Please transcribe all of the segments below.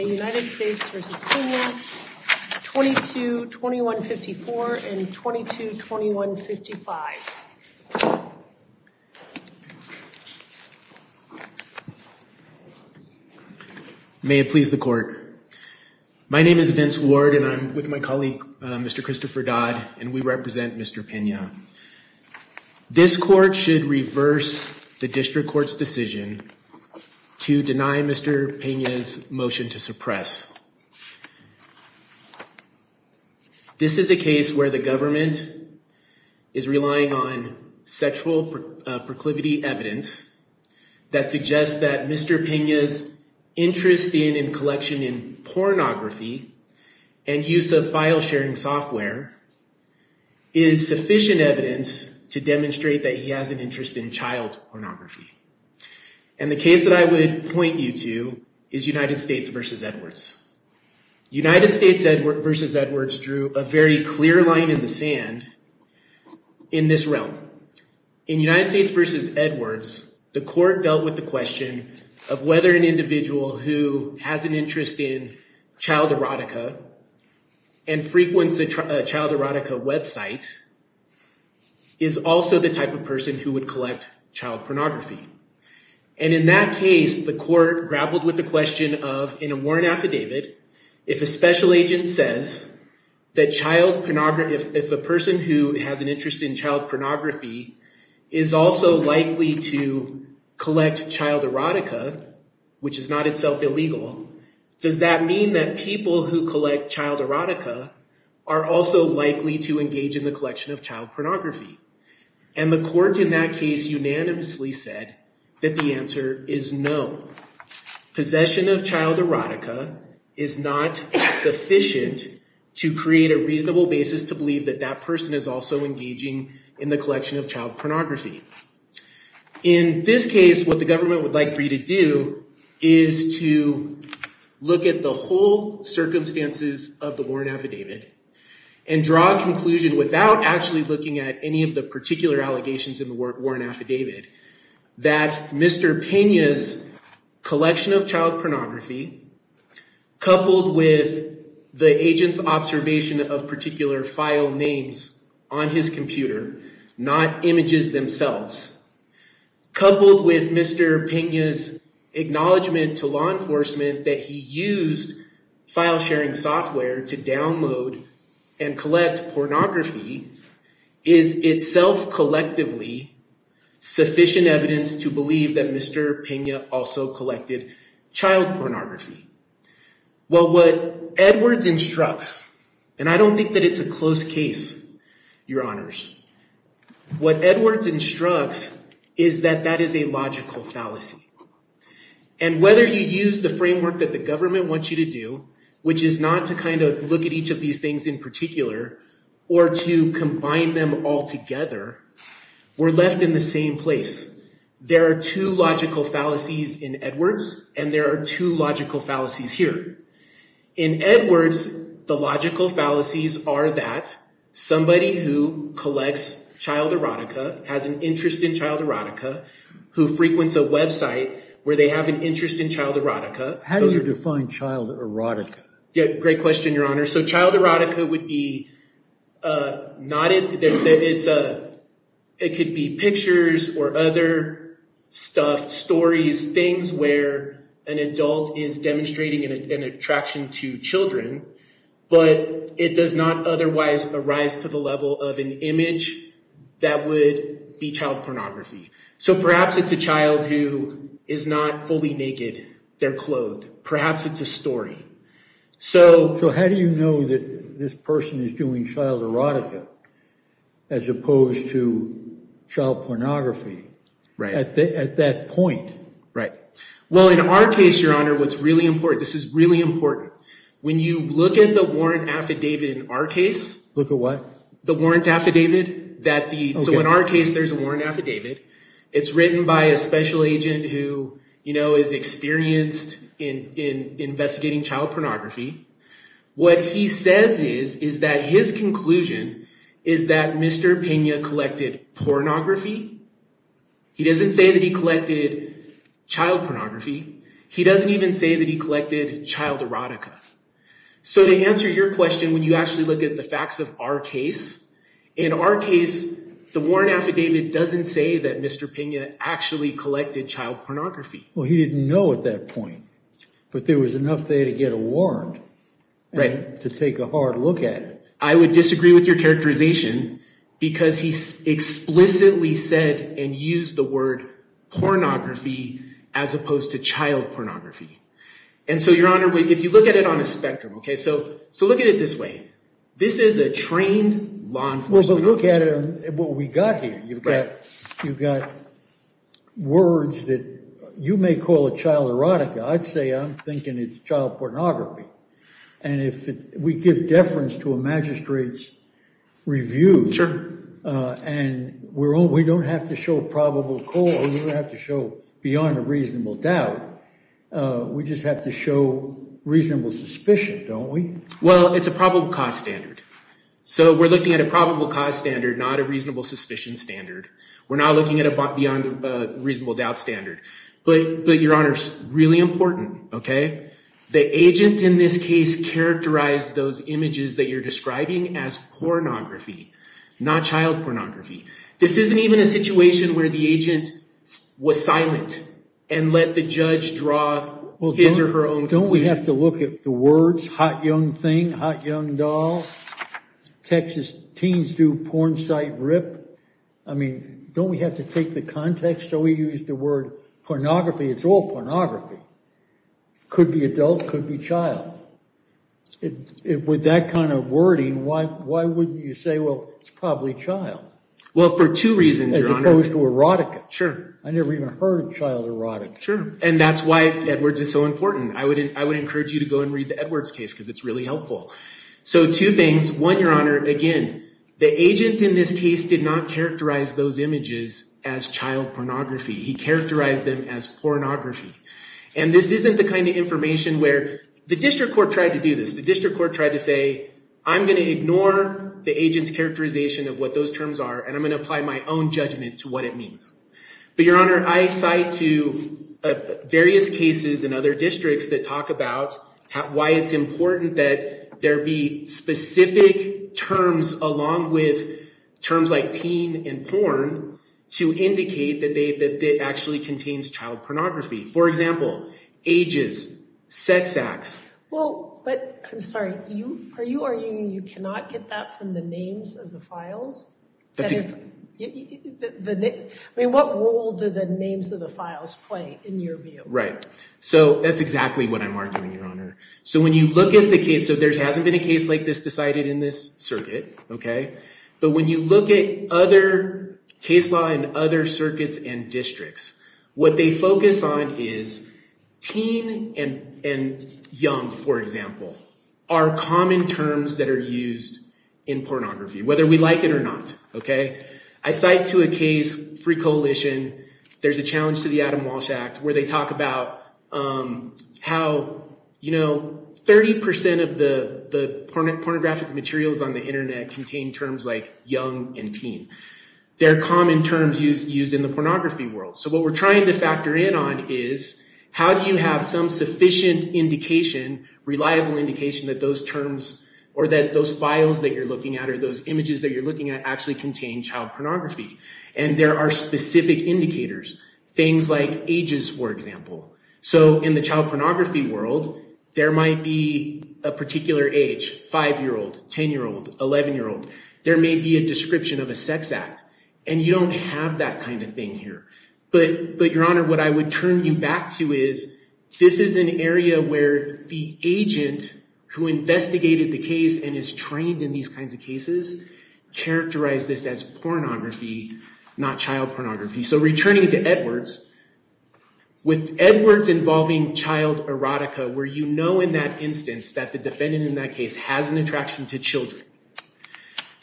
United States v. Pena 22-2154 and 22-2155 May it please the court. My name is Vince Ward and I'm with my colleague Mr. Christopher Dodd and we represent Mr. Pena. This court should reverse the district court's decision to deny Mr. Pena's motion to suppress. This is a case where the government is relying on sexual proclivity evidence that suggests that Mr. Pena's interest in collection in pornography and use of file sharing software is sufficient evidence to demonstrate that he has an interest in child pornography. And the case that I would point you to is United States v. Edwards. United States v. Edwards drew a very clear line in the sand in this realm. In United States v. Edwards, the court dealt with the question of whether an individual who has an interest in child erotica and frequents a child erotica website is also the type of person who would collect child pornography. And in that case, the court grappled with the question of, in a warrant affidavit, if a special agent says that if a person who has an interest in child pornography is also likely to collect child erotica, which is not itself illegal, does that mean that people who collect child erotica are also likely to engage in the collection of child pornography? And the court in that case unanimously said that the answer is no. Possession of child erotica is not sufficient to create a reasonable basis to believe that that person is also engaging in the collection of child pornography. In this case, what the government would like for you to do is to look at the whole circumstances of the warrant affidavit and draw a conclusion without actually looking at any of the particular allegations in the warrant affidavit, that Mr. Pena's collection of child pornography, coupled with the agent's observation of particular file names on his computer, not images themselves, coupled with Mr. Pena's acknowledgement to law enforcement that he used file sharing software to download and collect pornography, is itself collectively sufficient evidence to believe that Mr. Pena also collected child pornography. Well, what Edwards instructs, and I don't think that it's a close case, your honors, what Edwards instructs is that that is a logical fallacy. And whether you use the framework that the government wants you to do, which is not to kind of look at each of these things in particular, or to combine them all together, we're left in the same place. There are two logical fallacies in Edwards, and there are two logical fallacies here. In Edwards, the logical fallacies are that somebody who collects child erotica, has an interest in child erotica, who frequents a website where they have an interest in child erotica. How do you define child erotica? Yeah, great question, your honor. So child erotica would be, not it, it could be pictures or other stuff, stories, things where an adult is demonstrating an attraction to children, but it does not otherwise arise to the level of an image that would be child pornography. So perhaps it's a child who is not fully naked, they're clothed, perhaps it's a story. So how do you know that this person is doing child erotica, as opposed to child pornography, at that point? Right. Well, in our case, your honor, what's really important, this is really important. When you look at the warrant affidavit in our case, look at what? The warrant affidavit that the, so in our case, there's a warrant affidavit. It's written by a special agent who is experienced in investigating child pornography. What he says is, is that his conclusion is that Mr. Pena collected pornography. He doesn't say that he collected child pornography. He doesn't even say that he collected child erotica. So to answer your question, when you actually look at the facts of our case, in our case, the warrant affidavit doesn't say that Mr. Pena actually collected child pornography. Well, he didn't know at that point, but there was enough there to get a warrant and to take a hard look at it. I would disagree with your characterization because he explicitly said and used the word pornography as opposed to child pornography. And so your honor, if you look at it on a spectrum, okay, so look at it this way. This is a trained law enforcement officer. Well, but look at it on what we got here. You've got words that you may call a child erotica. I'd say I'm thinking it's child pornography. And if we give deference to a magistrate's review, and we don't have to show probable cause, we don't have to show beyond a reasonable doubt, we just have to show reasonable suspicion, don't we? Well, it's a probable cause standard. So we're looking at a probable cause standard, not a reasonable suspicion standard. We're not looking at a beyond a reasonable doubt standard. But your honor, really important, okay, the agent in this case characterized those images that you're describing as pornography, not child pornography. This isn't even a situation where the agent was silent and let the judge draw his or her own conclusion. Don't we have to look at the words, hot young thing, hot young doll, Texas teens do porn site rip. I mean, don't we have to take the context? So we use the word pornography. It's all pornography. Could be adult, could be child. With that kind of wording, why wouldn't you say, well, it's probably child? Well, for two reasons, your honor. As opposed to erotica. Sure. I never even heard of child erotica. Sure. And that's why Edwards is so important. I would encourage you to go and read the Edwards case because it's really helpful. So two things, one, your honor, again, the agent in this case did not characterize those images as child pornography. He characterized them as pornography. And this isn't the kind of information where the district court tried to do this. The district court tried to say, I'm going to ignore the agent's characterization of what those terms are. And I'm going to apply my own judgment to what it means. But your honor, I cite to various cases in other districts that talk about why it's important that there be specific terms along with terms like teen and But I'm sorry, are you arguing you cannot get that from the names of the files? I mean, what role do the names of the files play in your view? Right. So that's exactly what I'm arguing, your honor. So when you look at the case, so there hasn't been a case like this decided in this circuit. But when you look at other circuits and districts, what they focus on is teen and young, for example, are common terms that are used in pornography, whether we like it or not. I cite to a case, Free Coalition, there's a challenge to the Adam Walsh Act where they talk about how 30% of the pornographic materials on the Internet contain terms like young and teen. They're common terms used in the pornography world. So what we're trying to factor in on is how do you have some sufficient indication, reliable indication that those terms or that those files that you're looking at or those images that you're looking at actually contain child pornography. And there are specific indicators, things like ages, for example. So in the child pornography world, there might be a particular age, 5-year-old, 10-year-old, 11-year-old. There may be a description of a sex act. And you don't have that kind of thing here. But your honor, what I would turn you back to is this is an area where the agent who investigated the case and is trained in these kinds of cases characterized this as pornography, not child pornography. So returning to Edwards, with Edwards involving child erotica, where you know in that instance that the defendant in that case has an attraction to children,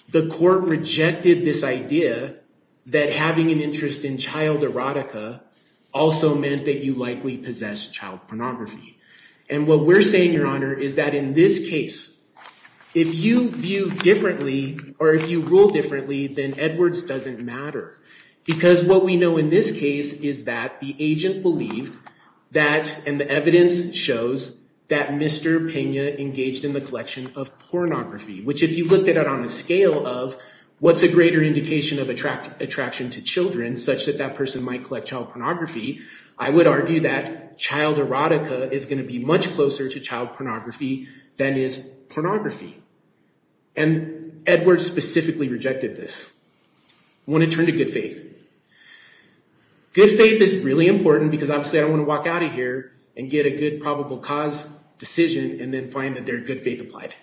the court rejected this idea that having an interest in child erotica also meant that you likely possess child pornography. And what we're saying, your honor, is that in this case, if you view differently or if you rule differently, then Edwards doesn't matter. Because what we know in this case is that the agent believed that, and the evidence shows, that Mr. Pena engaged in the collection of pornography, which if you looked at it on the scale of what's a greater indication of attraction to children, such that that person might collect child pornography, I would argue that child erotica is going to be much closer to child pornography. I want to turn to good faith. Good faith is really important because obviously I don't want to walk out of here and get a good probable cause decision and then find that their good faith applied.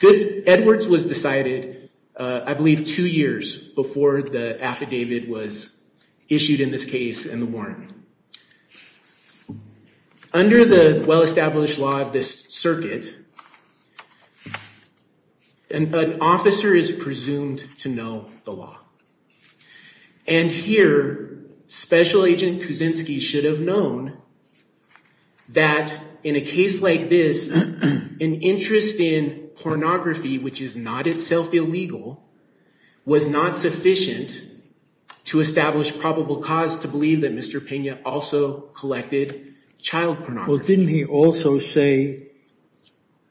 Edwards was decided, I believe, two years before the affidavit was issued in this case and the warrant. Under the well-established law of this circuit, an officer is presumed to know the law. And here, Special Agent Kuczynski should have known that in a case like this, an interest in pornography, which is not itself illegal, was not sufficient to establish probable cause to believe that Mr. Pena also believed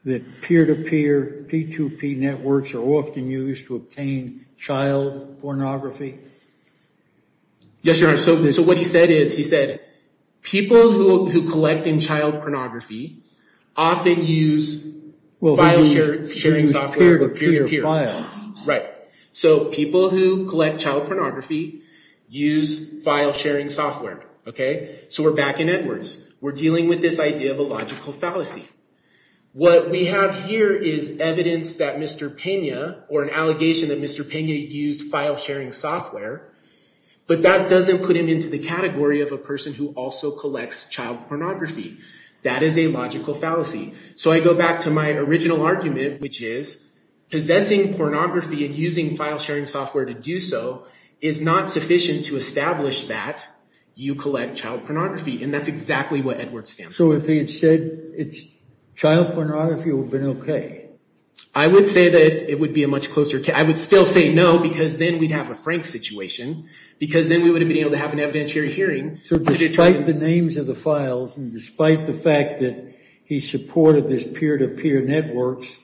that peer-to-peer P2P networks are often used to obtain child pornography. Yes, Your Honor. So what he said is, he said, people who collect in child pornography often use file-sharing software, but peer-to-peer files. Right. So people who collect child pornography use file-sharing software. Okay. So we're back in Edwards. We're dealing with this idea of a logical fallacy. What we have here is evidence that Mr. Pena, or an allegation that Mr. Pena used file-sharing software, but that doesn't put him into the category of a person who also collects child pornography. That is a logical fallacy. So I go back to my original argument, which is, possessing pornography and using file-sharing software to do so is not sufficient to establish that you collect child pornography, and that's exactly what Edwards stands for. So if he had said it's child pornography, it would have been okay. I would say that it would be a much closer case. I would still say no, because then we'd have a Frank situation, because then we would have been able to have an evidentiary hearing. So despite the names of the files, and despite the fact that he supported this peer-to-peer networks,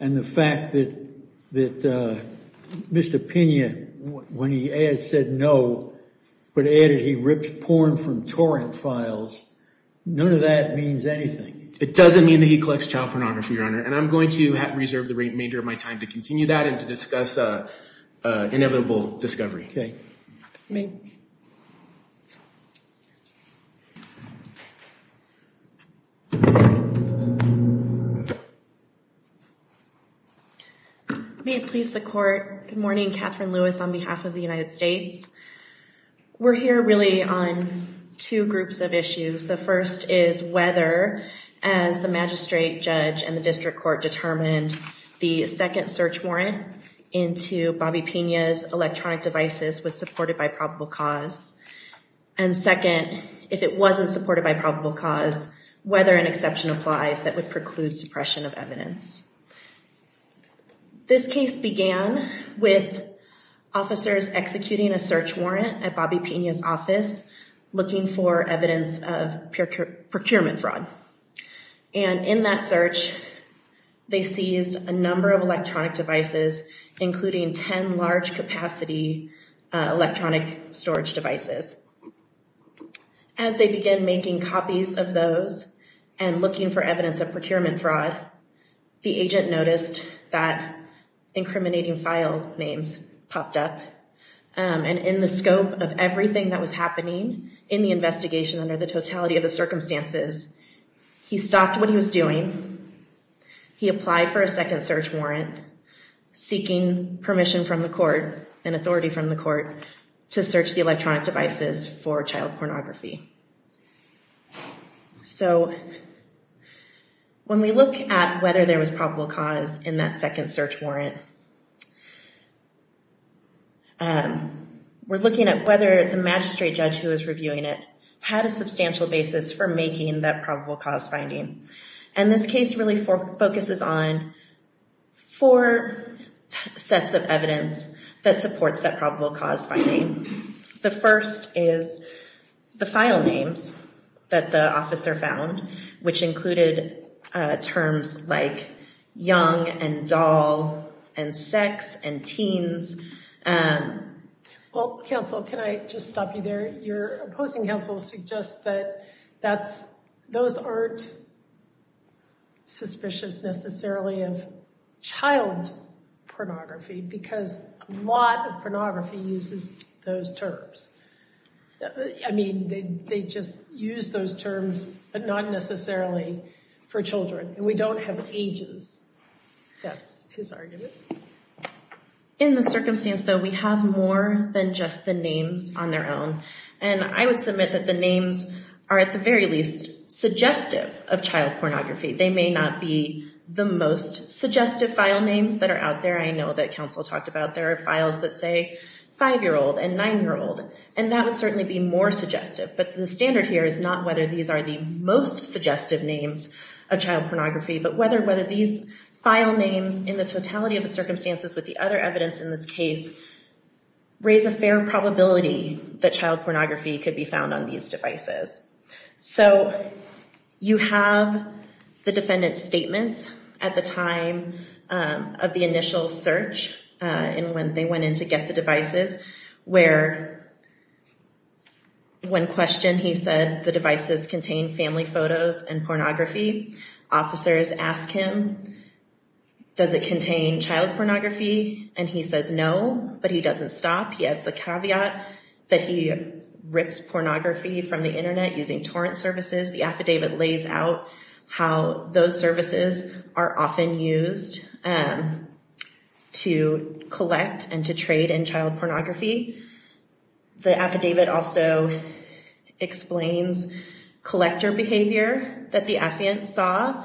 and the fact that Mr. Pena, when he said no, but added he rips porn from torrent files, none of that means anything. It doesn't mean that he collects child pornography, Your Honor, and I'm going to reserve the remainder of my time to continue that and to discuss inevitable discovery. Okay. May it please the Court, good morning. Catherine Lewis on behalf of the United States. We're here really on two groups of issues. The first is whether, as the magistrate judge and the district court determined, the second search warrant into Bobby Pena's electronic devices was supported by probable cause. And second, if it wasn't supported by probable cause, whether an exception applies that would preclude suppression of evidence. This case began with officers executing a search warrant at Bobby Pena's office, looking for evidence of procurement fraud. And in that search, they seized a number of electronic devices, including 10 large capacity electronic storage devices. As they began making copies of those and looking for evidence of procurement fraud, the agent noticed that incriminating file names popped up. And in the scope of everything that was happening in the investigation under the totality of the circumstances, he stopped what he was doing. He applied for a second search warrant, seeking permission from the court and authority from the district court. So when we look at whether there was probable cause in that second search warrant, we're looking at whether the magistrate judge who was reviewing it had a substantial basis for making that probable cause finding. And this case really focuses on four sets of evidence that supports that probable cause finding. The first is the file names that the officer found, which included terms like young and doll and sex and teens. Well, counsel, can I just stop you there? Your opposing counsel suggests that those aren't suspicious necessarily of child pornography because a lot of pornography uses those terms. I mean, they just use those terms, but not necessarily for children. And we don't have ages. That's his argument. In the circumstance, though, we have more than just the names on their own. And I would submit that the names are at the very least suggestive of child pornography. They may not be the most suggestive file names that are out there. I know that counsel talked about there are files that say five-year-old and nine-year-old, and that would certainly be more suggestive. But the standard here is not whether these are the most suggestive names of child pornography, but whether these file names in the totality of the circumstances with the other evidence in this case raise a fair probability that child pornography could be found on these devices. So you have the defendant's statements at the time of the initial search and when they went in to get the devices, where one question, he said the devices contain family photos and pornography. Officers ask him, does it contain child pornography? And he says no, but he doesn't stop. He adds the caveat that he rips pornography from the internet using torrent services. The affidavit lays out how those services are often used to collect and to trade in child pornography. The affidavit also explains collector behavior that the affiant saw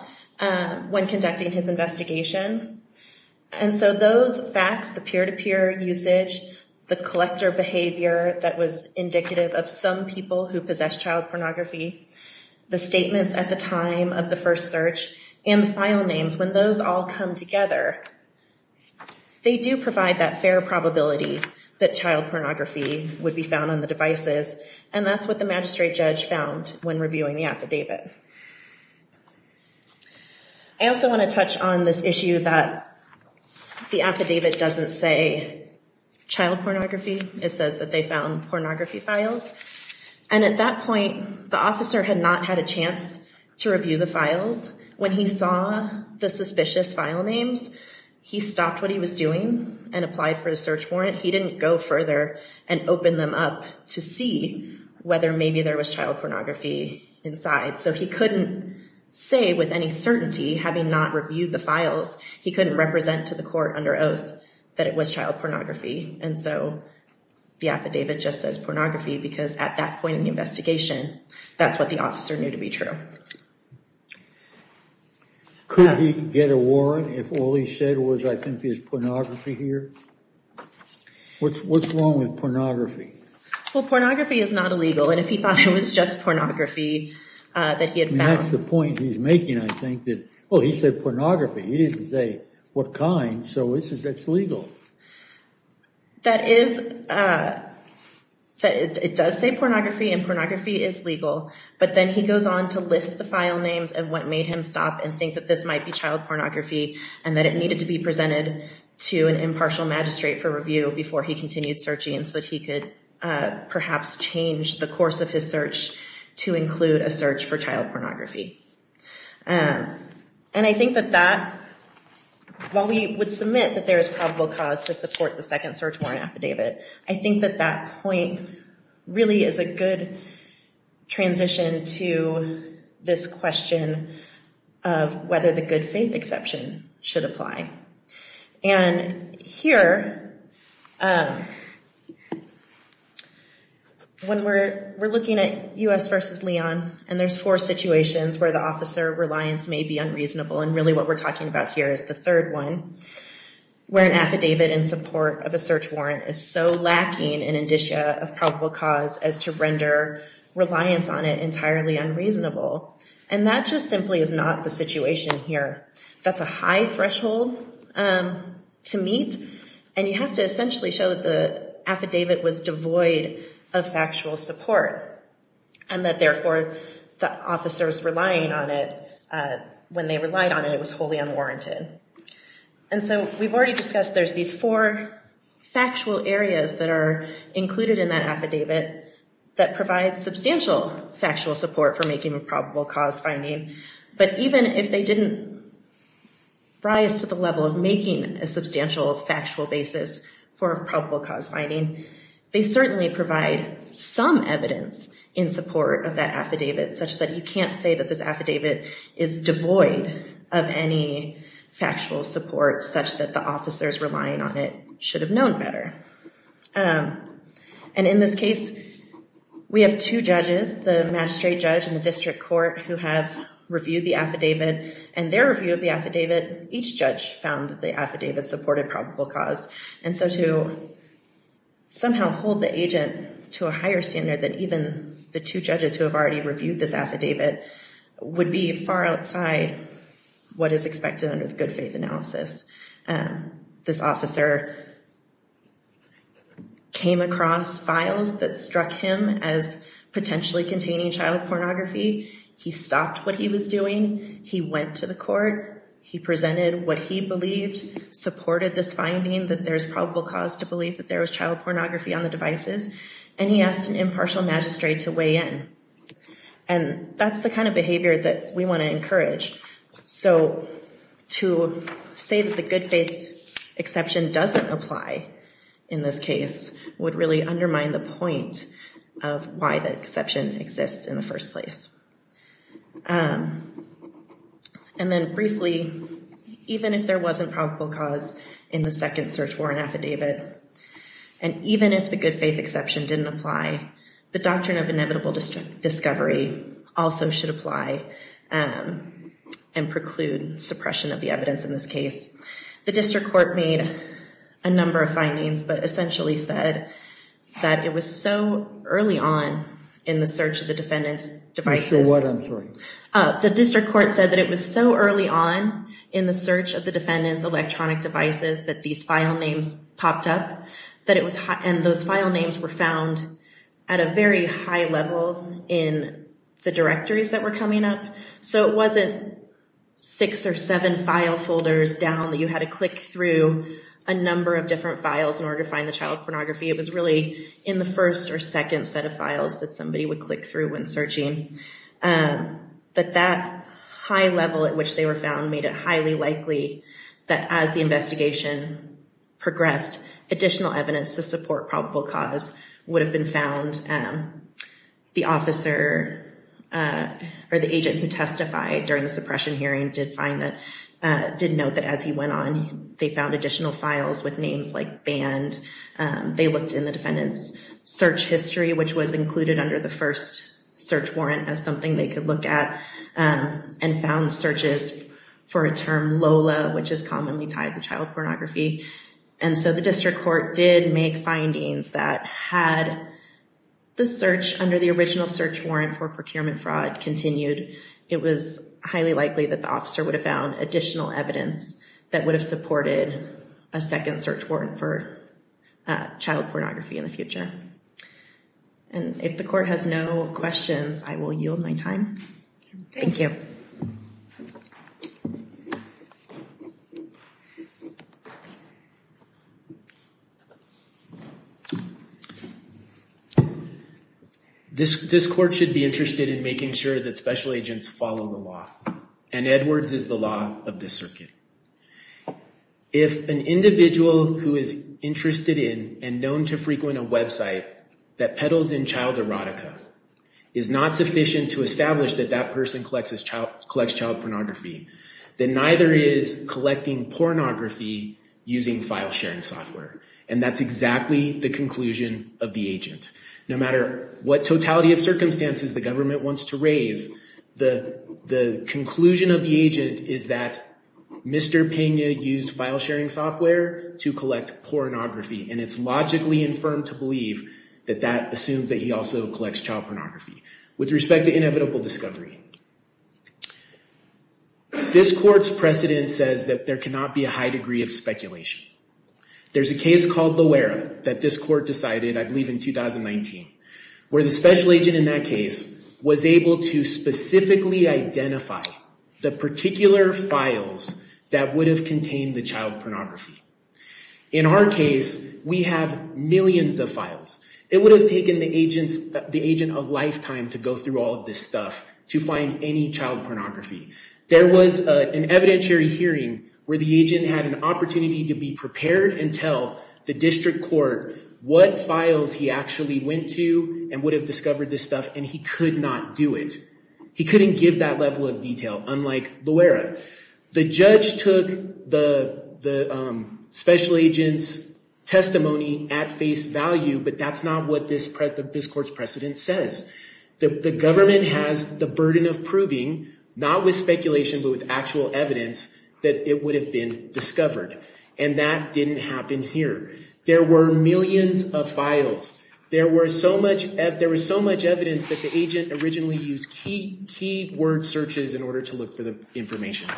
when conducting his usage, the collector behavior that was indicative of some people who possessed child pornography, the statements at the time of the first search, and the file names. When those all come together, they do provide that fair probability that child pornography would be found on the devices, and that's what the magistrate judge found when reviewing the affidavit. I also want to touch on this issue that the affidavit doesn't say child pornography. It says that they found pornography files. And at that point, the officer had not had a chance to review the files. When he saw the suspicious file names, he stopped what he was doing and applied for a search warrant. He didn't go further and open them up to see whether maybe there was child pornography inside. So he couldn't say with any certainty, having not reviewed the files, he couldn't represent to the court under oath that it was child pornography. And so the affidavit just says pornography because at that point in the investigation, that's what the officer knew to be true. Could he get a warrant if all he said was I think there's pornography here? What's wrong with pornography? Well, pornography is not illegal. And if he thought it was just pornography that he had found. That's the point he's making, I think, that, oh, he said pornography. He didn't say what kind. So it's legal. That is, it does say pornography and pornography is legal. But then he goes on to list the file names of what made him stop and think that this might be child pornography and that it needed to be presented to an impartial magistrate for review before he continued searching so that he could perhaps change the course of his search to include a search for child pornography. And I think that that, while we would submit that there is probable cause to support the second search warrant affidavit, I think that that point really is a good transition to this question of whether the good faith exception should apply. And here, when we're, we're looking at U.S. versus Leon and there's four situations where the officer reliance may be unreasonable. And really what we're talking about here is the third one, where an affidavit in support of a search warrant is so lacking in indicia of probable cause as to render reliance on it entirely unreasonable. And that just simply is not the situation here. That's a high threshold to meet. And you have to essentially show that the affidavit was devoid of factual support and that therefore the officers relying on it, when they relied on it, it was wholly unwarranted. And so we've already discussed there's these four factual areas that are included in that affidavit that provide substantial factual support for making a decision, rise to the level of making a substantial factual basis for probable cause finding. They certainly provide some evidence in support of that affidavit such that you can't say that this affidavit is devoid of any factual support such that the officers relying on it should have known better. And in this case, we have two judges, the magistrate judge and the district court who have reviewed the affidavit and their review of the affidavit, each judge found that the affidavit supported probable cause. And so to somehow hold the agent to a higher standard than even the two judges who have already reviewed this affidavit would be far outside what is expected under the good faith analysis. This officer came across files that struck him as potentially containing child pornography. He stopped what he was doing. He went to the court. He presented what he believed supported this finding that there's probable cause to believe that there was child pornography on the devices. And he asked an impartial magistrate to weigh in. And that's the kind of behavior that we want to encourage. So to say that the good faith exception doesn't apply in this case would really undermine the point of why the exception exists in the first place. And then briefly, even if there wasn't probable cause in the second search warrant affidavit, and even if the good faith exception didn't apply, the doctrine of inevitable discovery also should apply and preclude suppression of the evidence in this case. The district court made a number of findings but essentially said that it was so early on in the search of the defendant's devices. The district court said that it was so early on in the search of the defendant's electronic devices that these file names popped up. And those file names were found at a very high level in the directories that were coming up. So it wasn't six or seven file folders down that you had to click through a number of different files in order to find the child pornography. It was really in the first or second set of files that somebody would click through when searching. But that high level at which they were found made it highly likely that as the investigation progressed, additional evidence to support probable cause would have been found. The officer or the agent who testified during the suppression hearing did find that, did note that as he went on, they found additional files with names like banned. They looked in the defendant's search history, which was included under the first search warrant as something they could look at, and found searches for a term Lola, which is commonly tied to child pornography. And so the district court did make findings that had the search under the original search warrant for procurement fraud continued, it was highly likely that the officer would have found additional evidence that would have supported a second search warrant for child pornography in the future. And if the court has no questions, I will yield my time. Thank you. This, this court should be interested in making sure that special agents follow the law. And Edwards is the law of this circuit. If an individual who is interested in and known to frequent a website that peddles in child erotica is not sufficient to establish that that person collects child pornography, then neither is collecting pornography using file sharing software. And that's exactly the conclusion of the agent. No matter what totality of circumstances the government wants to raise, the conclusion of the agent is that Mr. Pena used file sharing software to collect pornography. And it's logically infirm to believe that that assumes that he also used file sharing software to collect child pornography. And that's a terrible discovery. This court's precedent says that there cannot be a high degree of speculation. There's a case called Loera that this court decided, I believe in 2019, where the special agent in that case was able to specifically identify the particular files that would have contained the child pornography. In our case, we have millions of files. It would have taken the agent a lifetime to go through all of this stuff to find any child pornography. There was an evidentiary hearing where the agent had an opportunity to be prepared and tell the district court what files he actually went to and would have discovered this stuff, and he could not do it. He couldn't give that level of detail, unlike Loera. The judge took the special agent's face value, but that's not what this court's precedent says. The government has the burden of proving, not with speculation but with actual evidence, that it would have been discovered. And that didn't happen here. There were millions of files. There was so much evidence that the agent originally used key word searches in order to look for the information.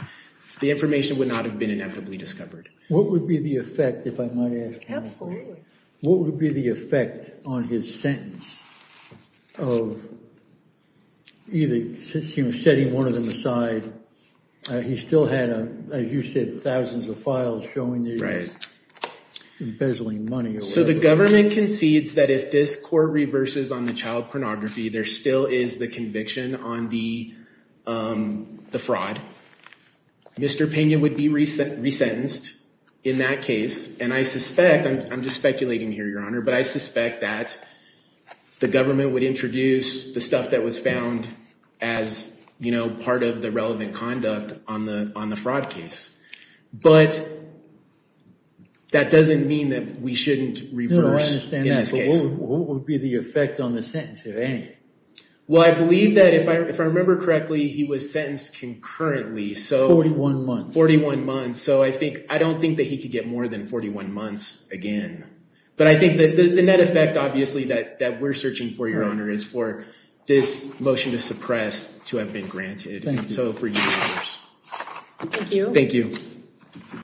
The information would not have been inevitably discovered. What would be the effect, if I might ask? Absolutely. What would be the effect on his sentence of either setting one of them aside? He still had, as you said, thousands of files showing these embezzling money. So the government concedes that if this court reverses on the child pornography, there still is the conviction on the child. He would be resentenced in that case. And I suspect, I'm just speculating here, Your Honor, but I suspect that the government would introduce the stuff that was found as, you know, part of the relevant conduct on the fraud case. But that doesn't mean that we shouldn't reverse. No, I understand that, but what would be the effect on the sentence, if any? Well, I believe that if I remember correctly, he was sentenced concurrently. 41 months. 41 months. So I don't think that he could get more than 41 months again. But I think that the net effect, obviously, that we're searching for, Your Honor, is for this motion to suppress to have been granted. Thank you. Thank you.